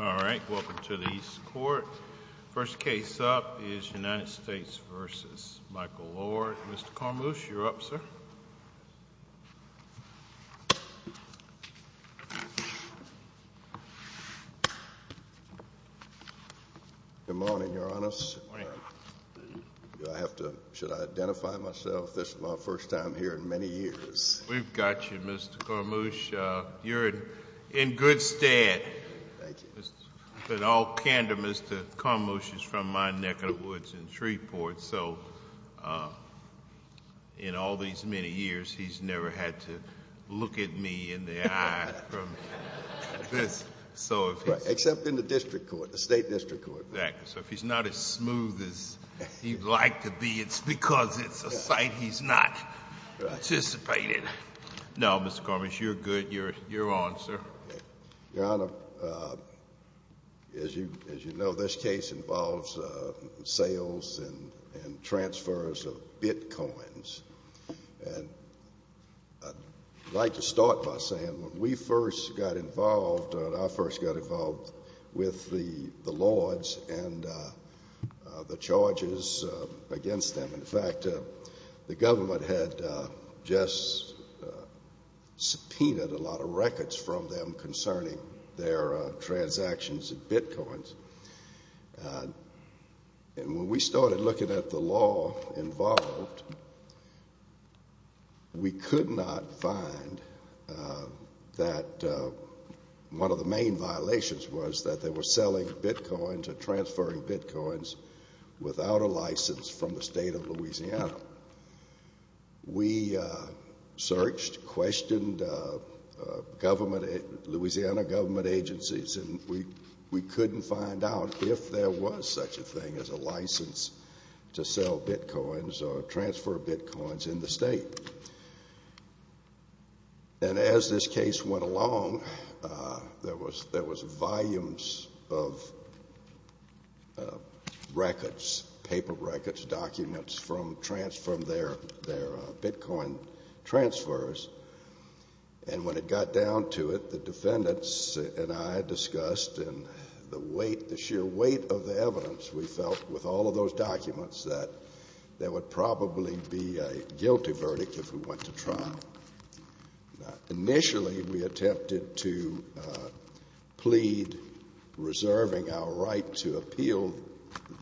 Alright, welcome to the East Court. First case up is United States v. Michael Lord. Mr. Kormoos, you're up, sir. Good morning, Your Honor. Should I identify myself? This is my first time here in many years. We've got you, Mr. Kormoos. You're in good stead. Thank you. But all candor, Mr. Kormoos, is from my neck of the woods in Shreveport, so in all these many years, he's never had to look at me in the eye from this. Except in the district court, the state district court. Exactly. So if he's not as smooth as he'd like to be, it's because it's a site he's not anticipated. No, Mr. Kormoos, you're good. You're on, sir. Your Honor, as you know, this case involves sales and transfers of bitcoins. And I'd like to start by saying when we first got involved, when I first got involved with the Lords and the charges against them, in fact, the government had just subpoenaed a lot of records from them concerning their transactions of bitcoins. And when we started looking at the law involved, we could not find that one of the main violations was that they were selling bitcoins or transferring bitcoins without a license from the state of Louisiana. We searched, questioned Louisiana government agencies, and we couldn't find out if there was such a thing as a license to sell bitcoins or transfer bitcoins in the state. And as this case went along, there was volumes of records, paper records, documents from their bitcoin transfers. And when it got down to it, the defendants and I discussed, and the weight, the sheer weight of the evidence, we felt with all of those documents that there would probably be a guilty verdict if we went to trial. Initially, we attempted to plead reserving our right to appeal.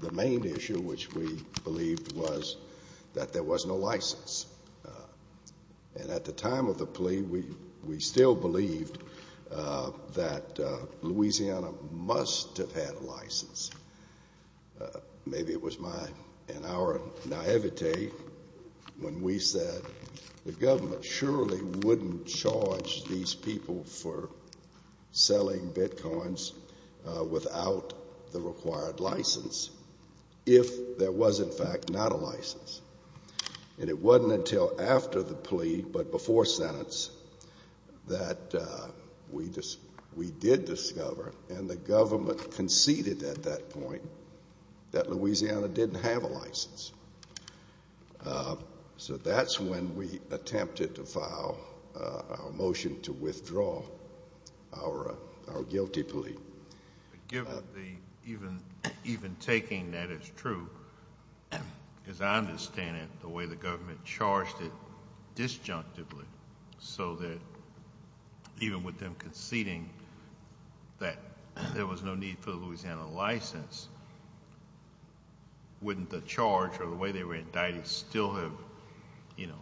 The main issue, which we believed, was that there was no license. And at the time of the plea, we still believed that Louisiana must have had a license. Maybe it was my and our naivete when we said the government surely wouldn't charge these people for selling bitcoins without the required license if there was, in fact, not a license. And it wasn't until after the plea but before sentence that we did discover, and the government conceded at that point, that Louisiana didn't have a license. So that's when we attempted to file a motion to withdraw our guilty plea. Even taking that as true, as I understand it, the way the government charged it disjunctively so that even with them conceding that there was no need for a Louisiana license, wouldn't the charge or the way they were indicted still have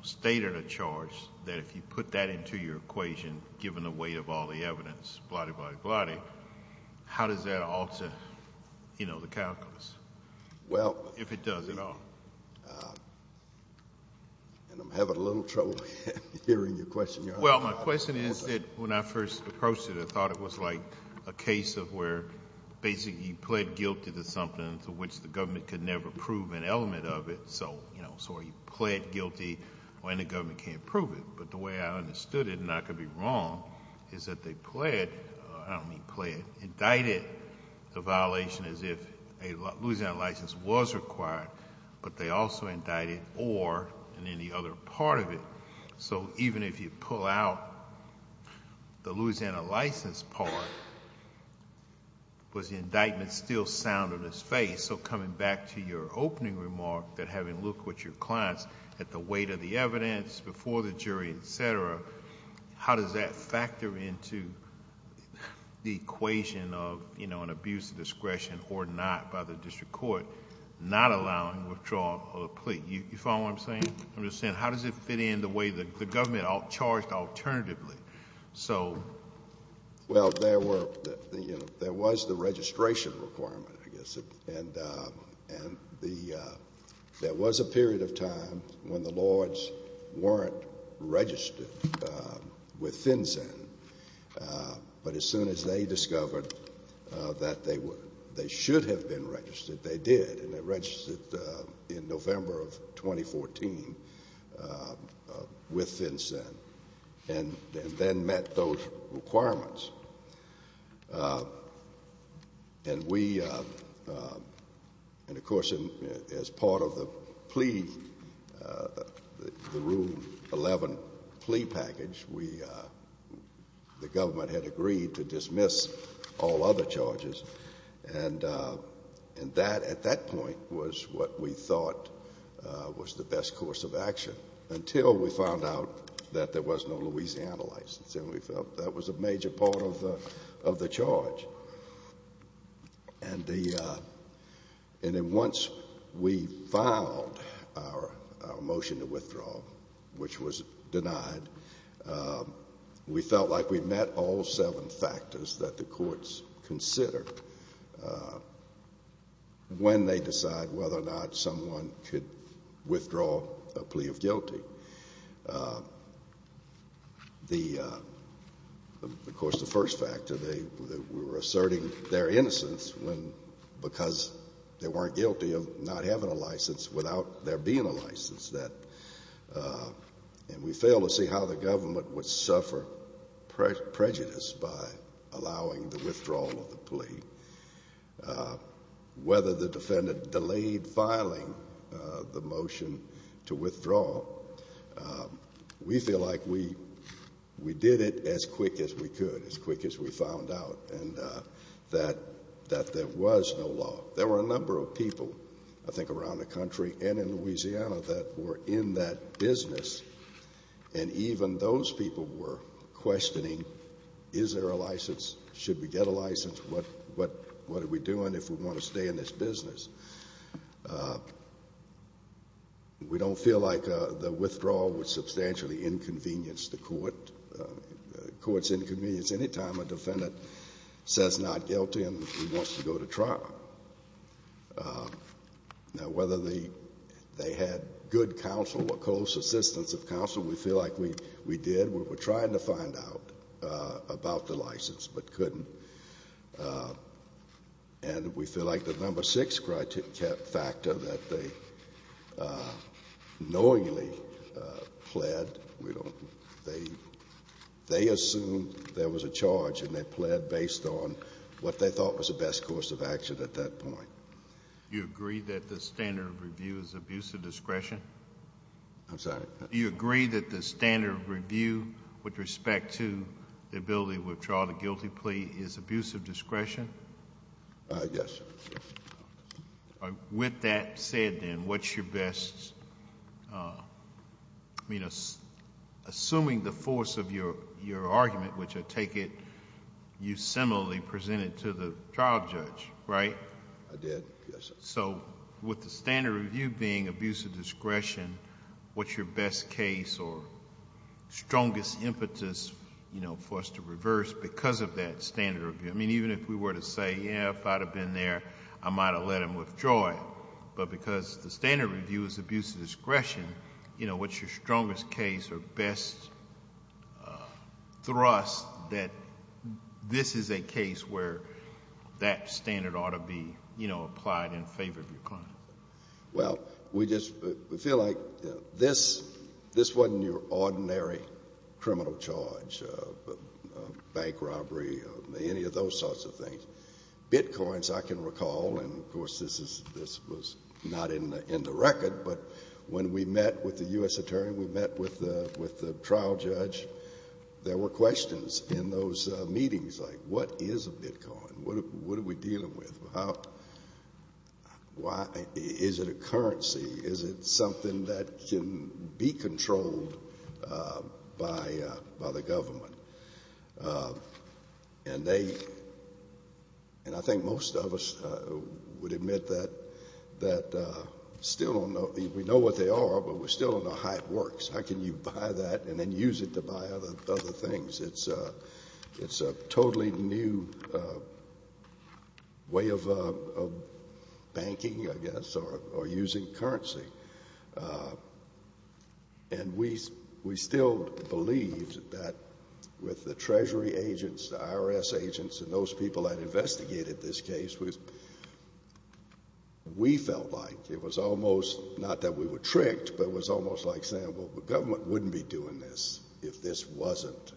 stated a charge that if you put that into your equation, given the weight of all the evidence, blotty, blotty, blotty, how does that alter the calculus, if it does at all? Well, and I'm having a little trouble hearing your question. Well, my question is that when I first approached it, I thought it was like a case of where basically you pled guilty to something to which the government could never prove an element of it. So you pled guilty when the government can't prove it. But the way I understood it, and I could be wrong, is that they pled, I don't mean pled, indicted the violation as if a Louisiana license was required, but they also indicted or in any other part of it. So even if you pull out the Louisiana license part, was the indictment still sound in its face? So coming back to your opening remark that having looked with your clients at the weight of the evidence before the jury, etc., how does that factor into the equation of an abuse of discretion or not by the district court, not allowing withdrawal of the plea? You follow what I'm saying? I'm just saying how does it fit in the way the government charged alternatively? Well, there was the registration requirement, I guess, and there was a period of time when the Lords weren't registered with FinCEN, but as soon as they discovered that they should have been registered, they did, and they registered in November of 2014 with FinCEN and then met those requirements. And we, and of course as part of the plea, the Rule 11 plea package, we, the government had agreed to dismiss all other charges. And that, at that point, was what we thought was the best course of action until we found out that there was no Louisiana license, and we felt that was a major part of the charge. And then once we filed our motion to withdraw, which was denied, we felt like we met all seven factors that the courts considered when they decide whether or not someone could withdraw a plea of guilty. The, of course, the first factor, they were asserting their innocence when, because they weren't guilty of not having a license without there being a license. That, and we failed to see how the government would suffer prejudice by allowing the withdrawal of the plea. Whether the defendant delayed filing the motion to withdraw, we feel like we did it as quick as we could, as quick as we found out, and that there was no law. There were a number of people, I think, around the country and in Louisiana that were in that business, and even those people were questioning, is there a license? Should we get a license? What are we doing if we want to stay in this business? We don't feel like the withdrawal would substantially inconvenience the court. Courts inconvenience any time a defendant says not guilty and wants to go to trial. Now, whether they had good counsel or close assistance of counsel, we feel like we did. We were trying to find out about the license but couldn't, and we feel like the number six factor that they knowingly pled, they assumed there was a charge and they pled based on what they thought was the best course of action at that point. You agree that the standard of review is abuse of discretion? I'm sorry? Do you agree that the standard of review with respect to the ability to withdraw the guilty plea is abuse of discretion? Yes. With that said, then, what's your best... I mean, assuming the force of your argument, which I take it you similarly presented to the trial judge, right? I did, yes, sir. With the standard of review being abuse of discretion, what's your best case or strongest impetus for us to reverse because of that standard of review? I mean, even if we were to say, yeah, if I'd have been there, I might have let him withdraw it, but because the standard of review is abuse of discretion, what's your strongest case or best thrust that this is a case where that standard ought to be applied in favor of your client? Well, we just feel like this wasn't your ordinary criminal charge, bank robbery, any of those sorts of things. Bitcoins, I can recall, and, of course, this was not in the record, but when we met with the U.S. Attorney, we met with the trial judge, there were questions in those meetings like, what is a Bitcoin? What are we dealing with? Is it a currency? Is it something that can be controlled by the government? And I think most of us would admit that we know what they are, but we still don't know how it works. How can you buy that and then use it to buy other things? It's a totally new way of banking, I guess, or using currency. And we still believe that with the Treasury agents, the IRS agents, and those people that investigated this case, we felt like it was almost not that we were tricked, but it was almost like saying, well, the government wouldn't be doing this if this wasn't,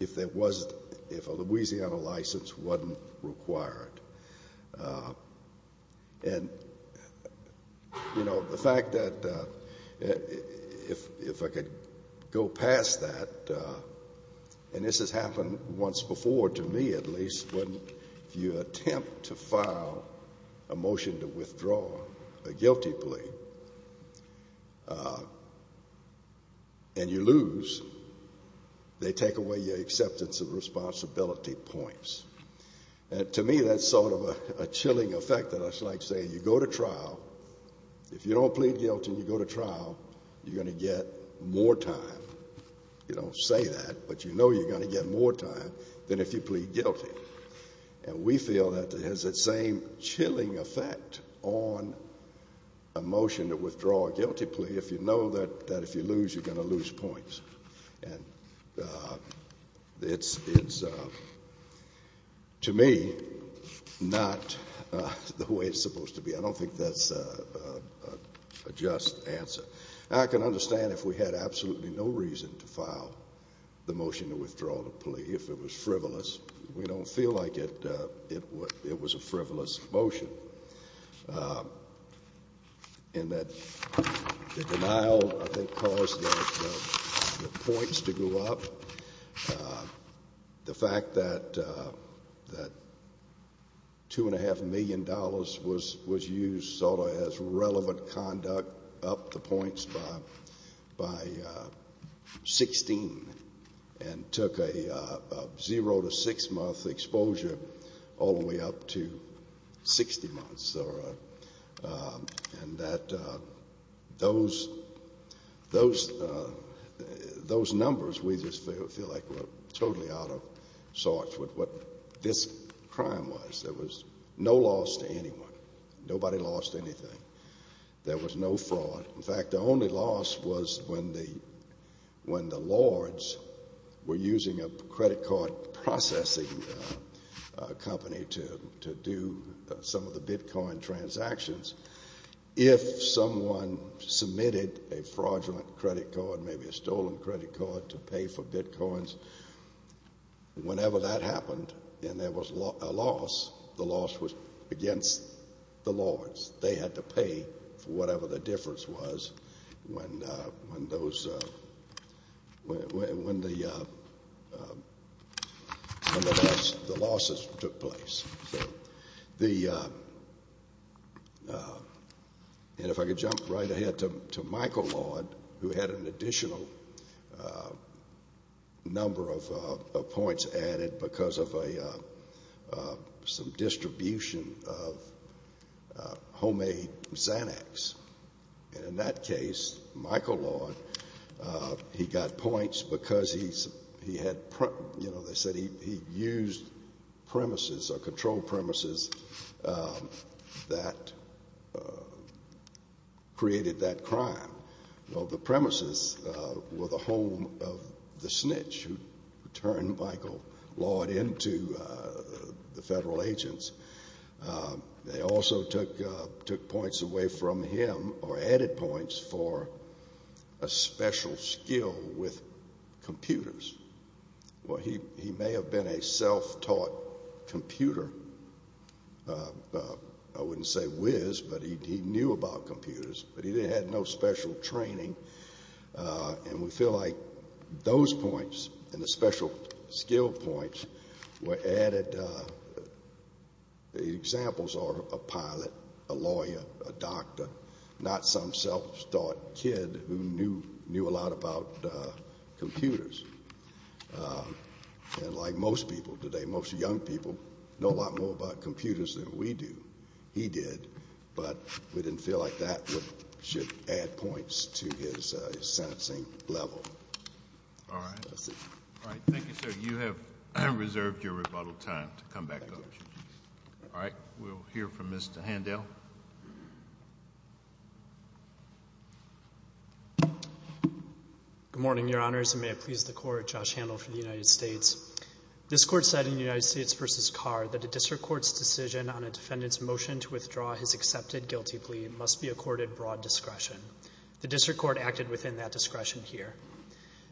if a Louisiana license wasn't required. And, you know, the fact that if I could go past that, and this has happened once before, to me at least, when you attempt to file a motion to withdraw a guilty plea and you lose, they take away your acceptance of responsibility points. And to me that's sort of a chilling effect, that it's like saying you go to trial, if you don't plead guilty and you go to trial, you're going to get more time. You don't say that, but you know you're going to get more time than if you plead guilty. And we feel that it has that same chilling effect on a motion to withdraw a guilty plea if you know that if you lose, you're going to lose points. And it's, to me, not the way it's supposed to be. I don't think that's a just answer. I can understand if we had absolutely no reason to file the motion to withdraw the plea, if it was frivolous. We don't feel like it was a frivolous motion in that the denial, I think, caused the points to go up. The fact that $2.5 million was used sort of as relevant conduct up the points by 16 and took a zero to six-month exposure all the way up to 60 months. And that those numbers we just feel like were totally out of sorts with what this crime was. There was no loss to anyone. Nobody lost anything. There was no fraud. In fact, the only loss was when the Lords were using a credit card processing company to do some of the Bitcoin transactions. If someone submitted a fraudulent credit card, maybe a stolen credit card, to pay for Bitcoins, whenever that happened and there was a loss, the loss was against the Lords. They had to pay for whatever the difference was when the losses took place. And if I could jump right ahead to Michael Lord, who had an additional number of points added because of some distribution of homemade Xanax. And in that case, Michael Lord, he got points because he had, you know, they said he used premises or controlled premises that created that crime. Well, the premises were the home of the snitch who turned Michael Lord into the federal agents. They also took points away from him or added points for a special skill with computers. Well, he may have been a self-taught computer. I wouldn't say whiz, but he knew about computers. But he didn't have no special training. And we feel like those points and the special skill points were added. Examples are a pilot, a lawyer, a doctor, not some self-taught kid who knew a lot about computers. And like most people today, most young people know a lot more about computers than we do. He did. But we didn't feel like that should add points to his sentencing level. All right. All right. Thank you, sir. You have reserved your rebuttal time to come back to us. All right. We'll hear from Mr. Handel. Good morning, Your Honors, and may it please the Court. Josh Handel for the United States. This Court said in United States v. Carr that a district court's decision on a defendant's motion to withdraw his accepted guilty plea must be accorded broad discretion. The district court acted within that discretion here.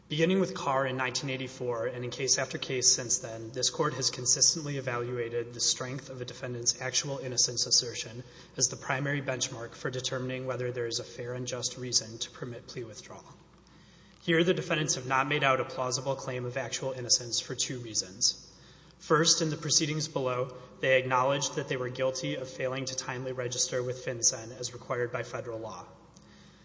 Beginning with Carr in 1984 and in case after case since then, this Court has consistently evaluated the strength of a defendant's actual innocence assertion as the primary benchmark for determining whether there is a fair and just reason to permit plea withdrawal. Here, the defendants have not made out a plausible claim of actual innocence for two reasons. First, in the proceedings below, they acknowledged that they were guilty of failing to timely register with FinCEN as required by federal law.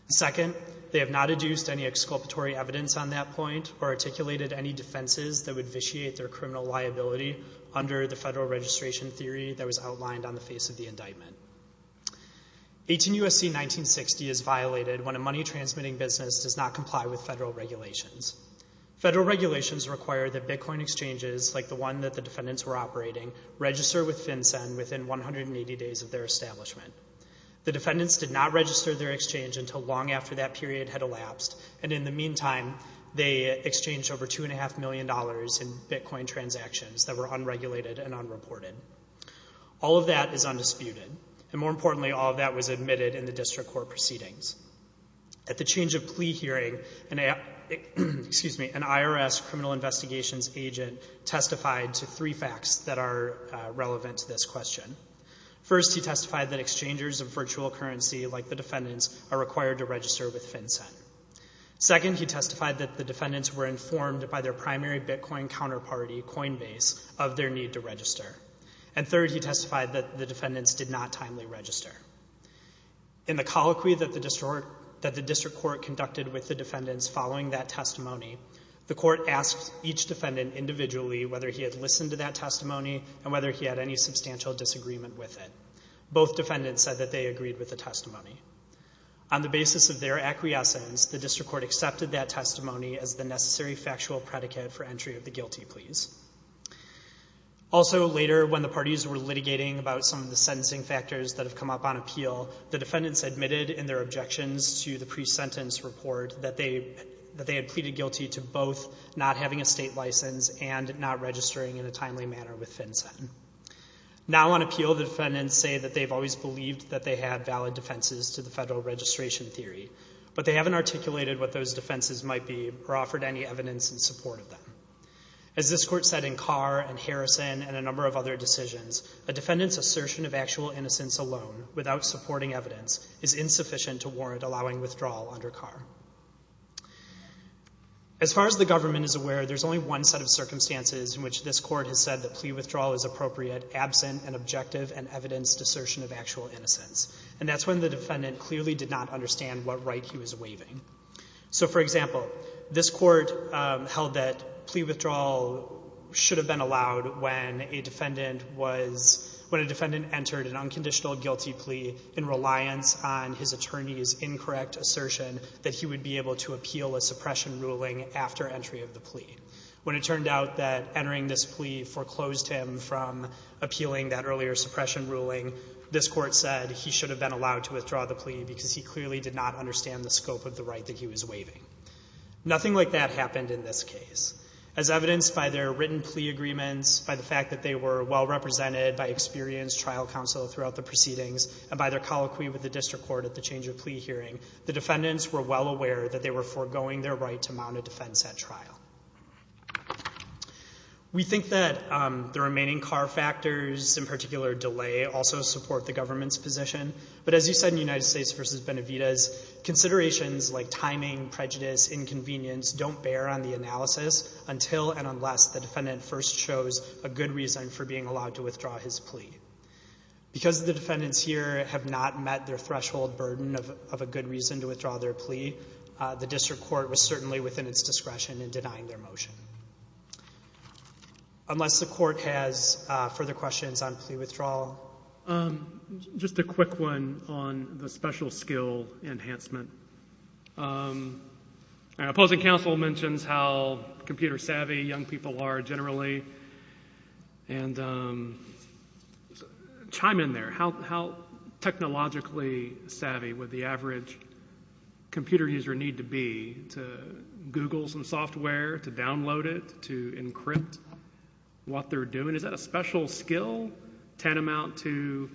Second, they have not adduced any exculpatory evidence on that point or articulated any defenses that would vitiate their criminal liability under the federal registration theory that was outlined on the face of the indictment. 18 U.S.C. 1960 is violated when a money-transmitting business does not comply with federal regulations. Federal regulations require that Bitcoin exchanges, like the one that the defendants were operating, register with FinCEN within 180 days of their establishment. The defendants did not register their exchange until long after that period had elapsed, and in the meantime, they exchanged over $2.5 million in Bitcoin transactions that were unregulated and unreported. All of that is undisputed, and more importantly, all of that was admitted in the district court proceedings. At the change of plea hearing, an IRS criminal investigations agent testified to three facts that are relevant to this question. First, he testified that exchangers of virtual currency, like the defendants, are required to register with FinCEN. Second, he testified that the defendants were informed by their primary Bitcoin counterparty, Coinbase, of their need to register. And third, he testified that the defendants did not timely register. In the colloquy that the district court conducted with the defendants following that testimony, the court asked each defendant individually whether he had listened to that testimony and whether he had any substantial disagreement with it. Both defendants said that they agreed with the testimony. On the basis of their acquiescence, the district court accepted that testimony as the necessary factual predicate for entry of the guilty pleas. Also later, when the parties were litigating about some of the sentencing factors that have come up on appeal, the defendants admitted in their objections to the pre-sentence report that they had pleaded guilty to both not having a state license and not registering in a timely manner with FinCEN. Now on appeal, the defendants say that they've always believed that they had valid defenses to the federal registration theory, but they haven't articulated what those defenses might be or offered any evidence in support of them. As this court said in Carr and Harrison and a number of other decisions, a defendant's assertion of actual innocence alone, without supporting evidence, is insufficient to warrant allowing withdrawal under Carr. As far as the government is aware, there's only one set of circumstances in which this court has said that plea withdrawal is appropriate absent an objective and evidenced assertion of actual innocence, and that's when the defendant clearly did not understand what right he was waiving. So, for example, this court held that plea withdrawal should have been allowed when a defendant was, when a defendant entered an unconditional guilty plea in reliance on his attorney's incorrect assertion that he would be able to appeal a suppression ruling after entry of the plea. When it turned out that entering this plea foreclosed him from appealing that earlier suppression ruling, this court said he should have been allowed to withdraw the plea because he clearly did not understand the scope of the right that he was waiving. Nothing like that happened in this case. As evidenced by their written plea agreements, by the fact that they were well represented by experienced trial counsel throughout the proceedings, and by their colloquy with the district court at the change of plea hearing, the defendants were well aware that they were foregoing their right to mount a defense at trial. We think that the remaining Carr factors, in particular delay, also support the government's position, but as you said in United States v. Benavides, considerations like timing, prejudice, inconvenience don't bear on the analysis until and unless the defendant first shows a good reason for being allowed to withdraw his plea. Because the defendants here have not met their threshold burden of a good reason to withdraw their plea, the district court was certainly within its discretion in denying their motion. Unless the court has further questions on plea withdrawal. Just a quick one on the special skill enhancement. Opposing counsel mentions how computer savvy young people are generally, and chime in there. How technologically savvy would the average computer user need to be to Google some software, to download it, to encrypt what they're doing? Is that a special skill tantamount to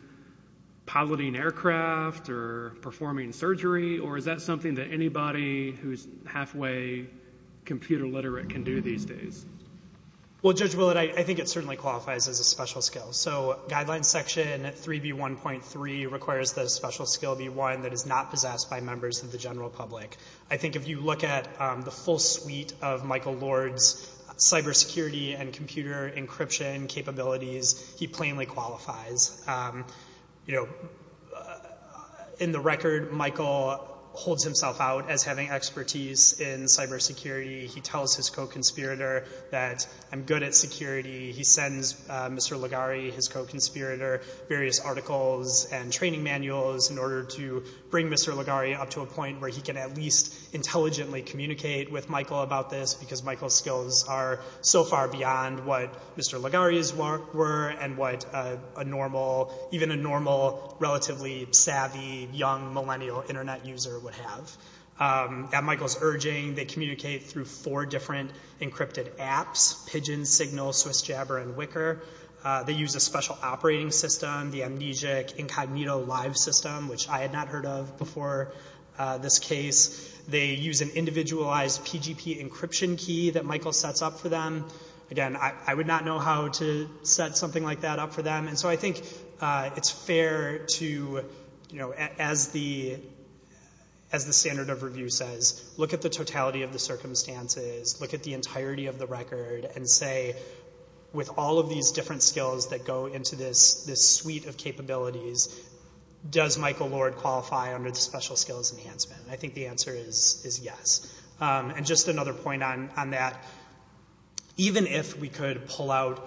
piloting aircraft or performing surgery, or is that something that anybody who's halfway computer literate can do these days? Well, Judge Willett, I think it certainly qualifies as a special skill. So Guidelines Section 3B1.3 requires that a special skill be one that is not possessed by members of the general public. I think if you look at the full suite of Michael Lord's cybersecurity and computer encryption capabilities, he plainly qualifies. You know, in the record, Michael holds himself out as having expertise in cybersecurity. He tells his co-conspirator that I'm good at security. He sends Mr. Ligari, his co-conspirator, various articles and training manuals in order to bring Mr. Ligari up to a point where he can at least intelligently communicate with Michael about this, because Michael's skills are so far beyond what Mr. Ligari's were, and what even a normal, relatively savvy, young millennial Internet user would have. At Michael's urging, they communicate through four different encrypted apps, Pigeon, Signal, SwissJabber, and Wicker. They use a special operating system, the amnesic incognito live system, which I had not heard of before this case. They use an individualized PGP encryption key that Michael sets up for them. Again, I would not know how to set something like that up for them. And so I think it's fair to, you know, as the standard of review says, look at the totality of the circumstances, look at the entirety of the record, and say, with all of these different skills that go into this suite of capabilities, does Michael Lord qualify under the special skills enhancement? I think the answer is yes. And just another point on that, even if we could pull out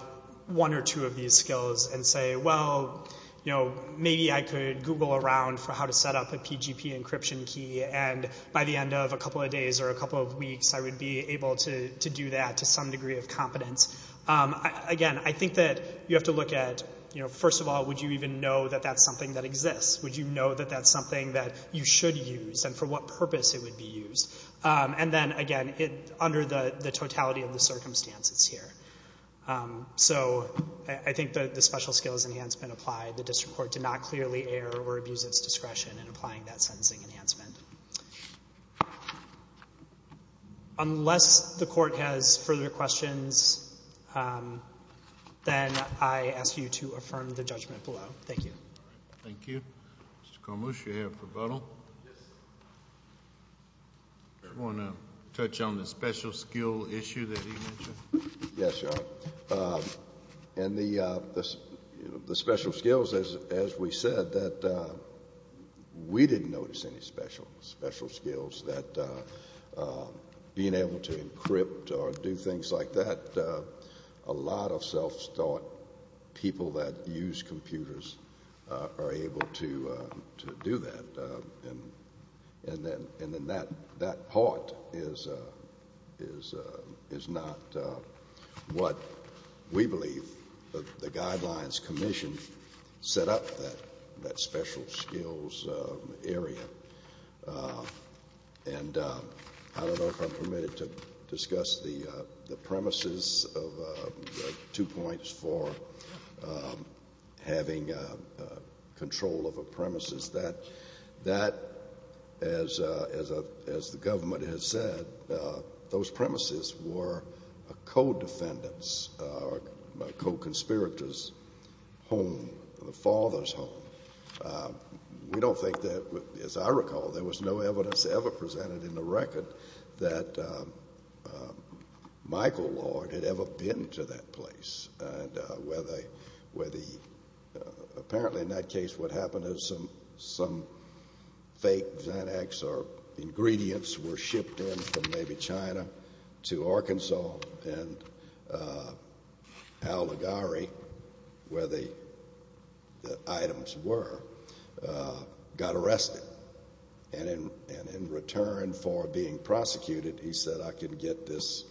one or two of these skills and say, well, you know, maybe I could Google around for how to set up a PGP encryption key, and by the end of a couple of days or a couple of weeks, I would be able to do that to some degree of confidence. Again, I think that you have to look at, you know, first of all, would you even know that that's something that exists? Would you know that that's something that you should use and for what purpose it would be used? And then, again, under the totality of the circumstances here. So I think the special skills enhancement applied. The district court did not clearly err or abuse its discretion in applying that sentencing enhancement. Unless the court has further questions, then I ask you to affirm the judgment below. Thank you. Thank you. Mr. Kormush, you have rebuttal. Yes. Do you want to touch on the special skill issue that he mentioned? Yes, Your Honor. And the special skills, as we said, that we didn't notice any special skills, that being able to encrypt or do things like that, a lot of self-taught people that use computers are able to do that. And then that part is not what we believe the Guidelines Commission set up, that special skills area. And I don't know if I'm permitted to discuss the premises of two points for having control of a premises. That, as the government has said, those premises were a co-defendant's or a co-conspirator's home, the father's home. We don't think that, as I recall, there was no evidence ever presented in the record that Michael Lord had ever been to that place. And apparently in that case what happened is some fake Xanax or ingredients were shipped in from maybe China to Arkansas, and Al Ligari, where the items were, got arrested. And in return for being prosecuted, he said, I can get this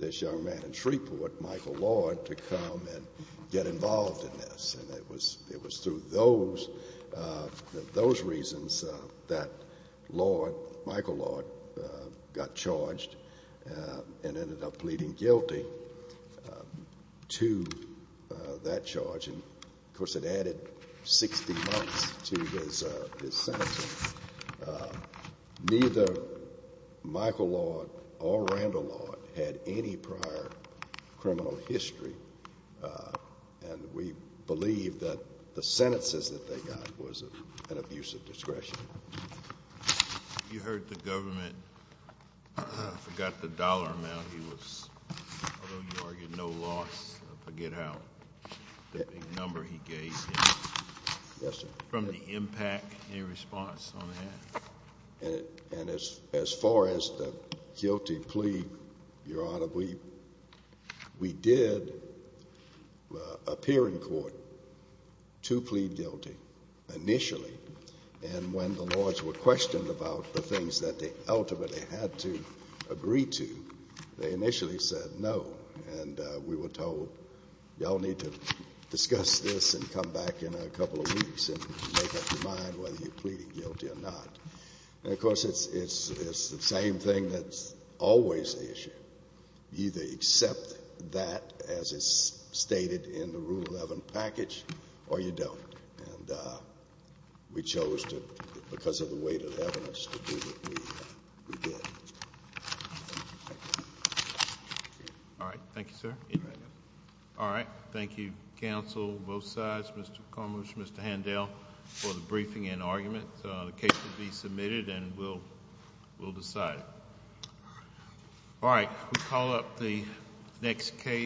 young man in Shreveport, Michael Lord, to come and get involved in this. And it was through those reasons that Lord, Michael Lord, got charged and ended up pleading guilty to that charge. And, of course, it added 60 months to his sentence. Neither Michael Lord or Randall Lord had any prior criminal history, and we believe that the sentences that they got was an abuse of discretion. You heard the government. I forgot the dollar amount he was, although you argued no loss, I forget how big a number he gave. Yes, sir. From the impact, any response on that? And as far as the guilty plea, Your Honor, we did appear in court to plead guilty initially. And when the Lords were questioned about the things that they ultimately had to agree to, they initially said no. And we were told, y'all need to discuss this and come back in a couple of weeks and make up your mind whether you're pleading guilty or not. And, of course, it's the same thing that's always the issue. You either accept that as is stated in the Rule 11 package or you don't. And we chose to, because of the weight of evidence, to do what we did. All right. Thank you, sir. All right. Thank you, counsel, both sides, Mr. Cummings, Mr. Handel, for the briefing and argument. The case will be submitted and we'll decide it. All right. We call up the next case.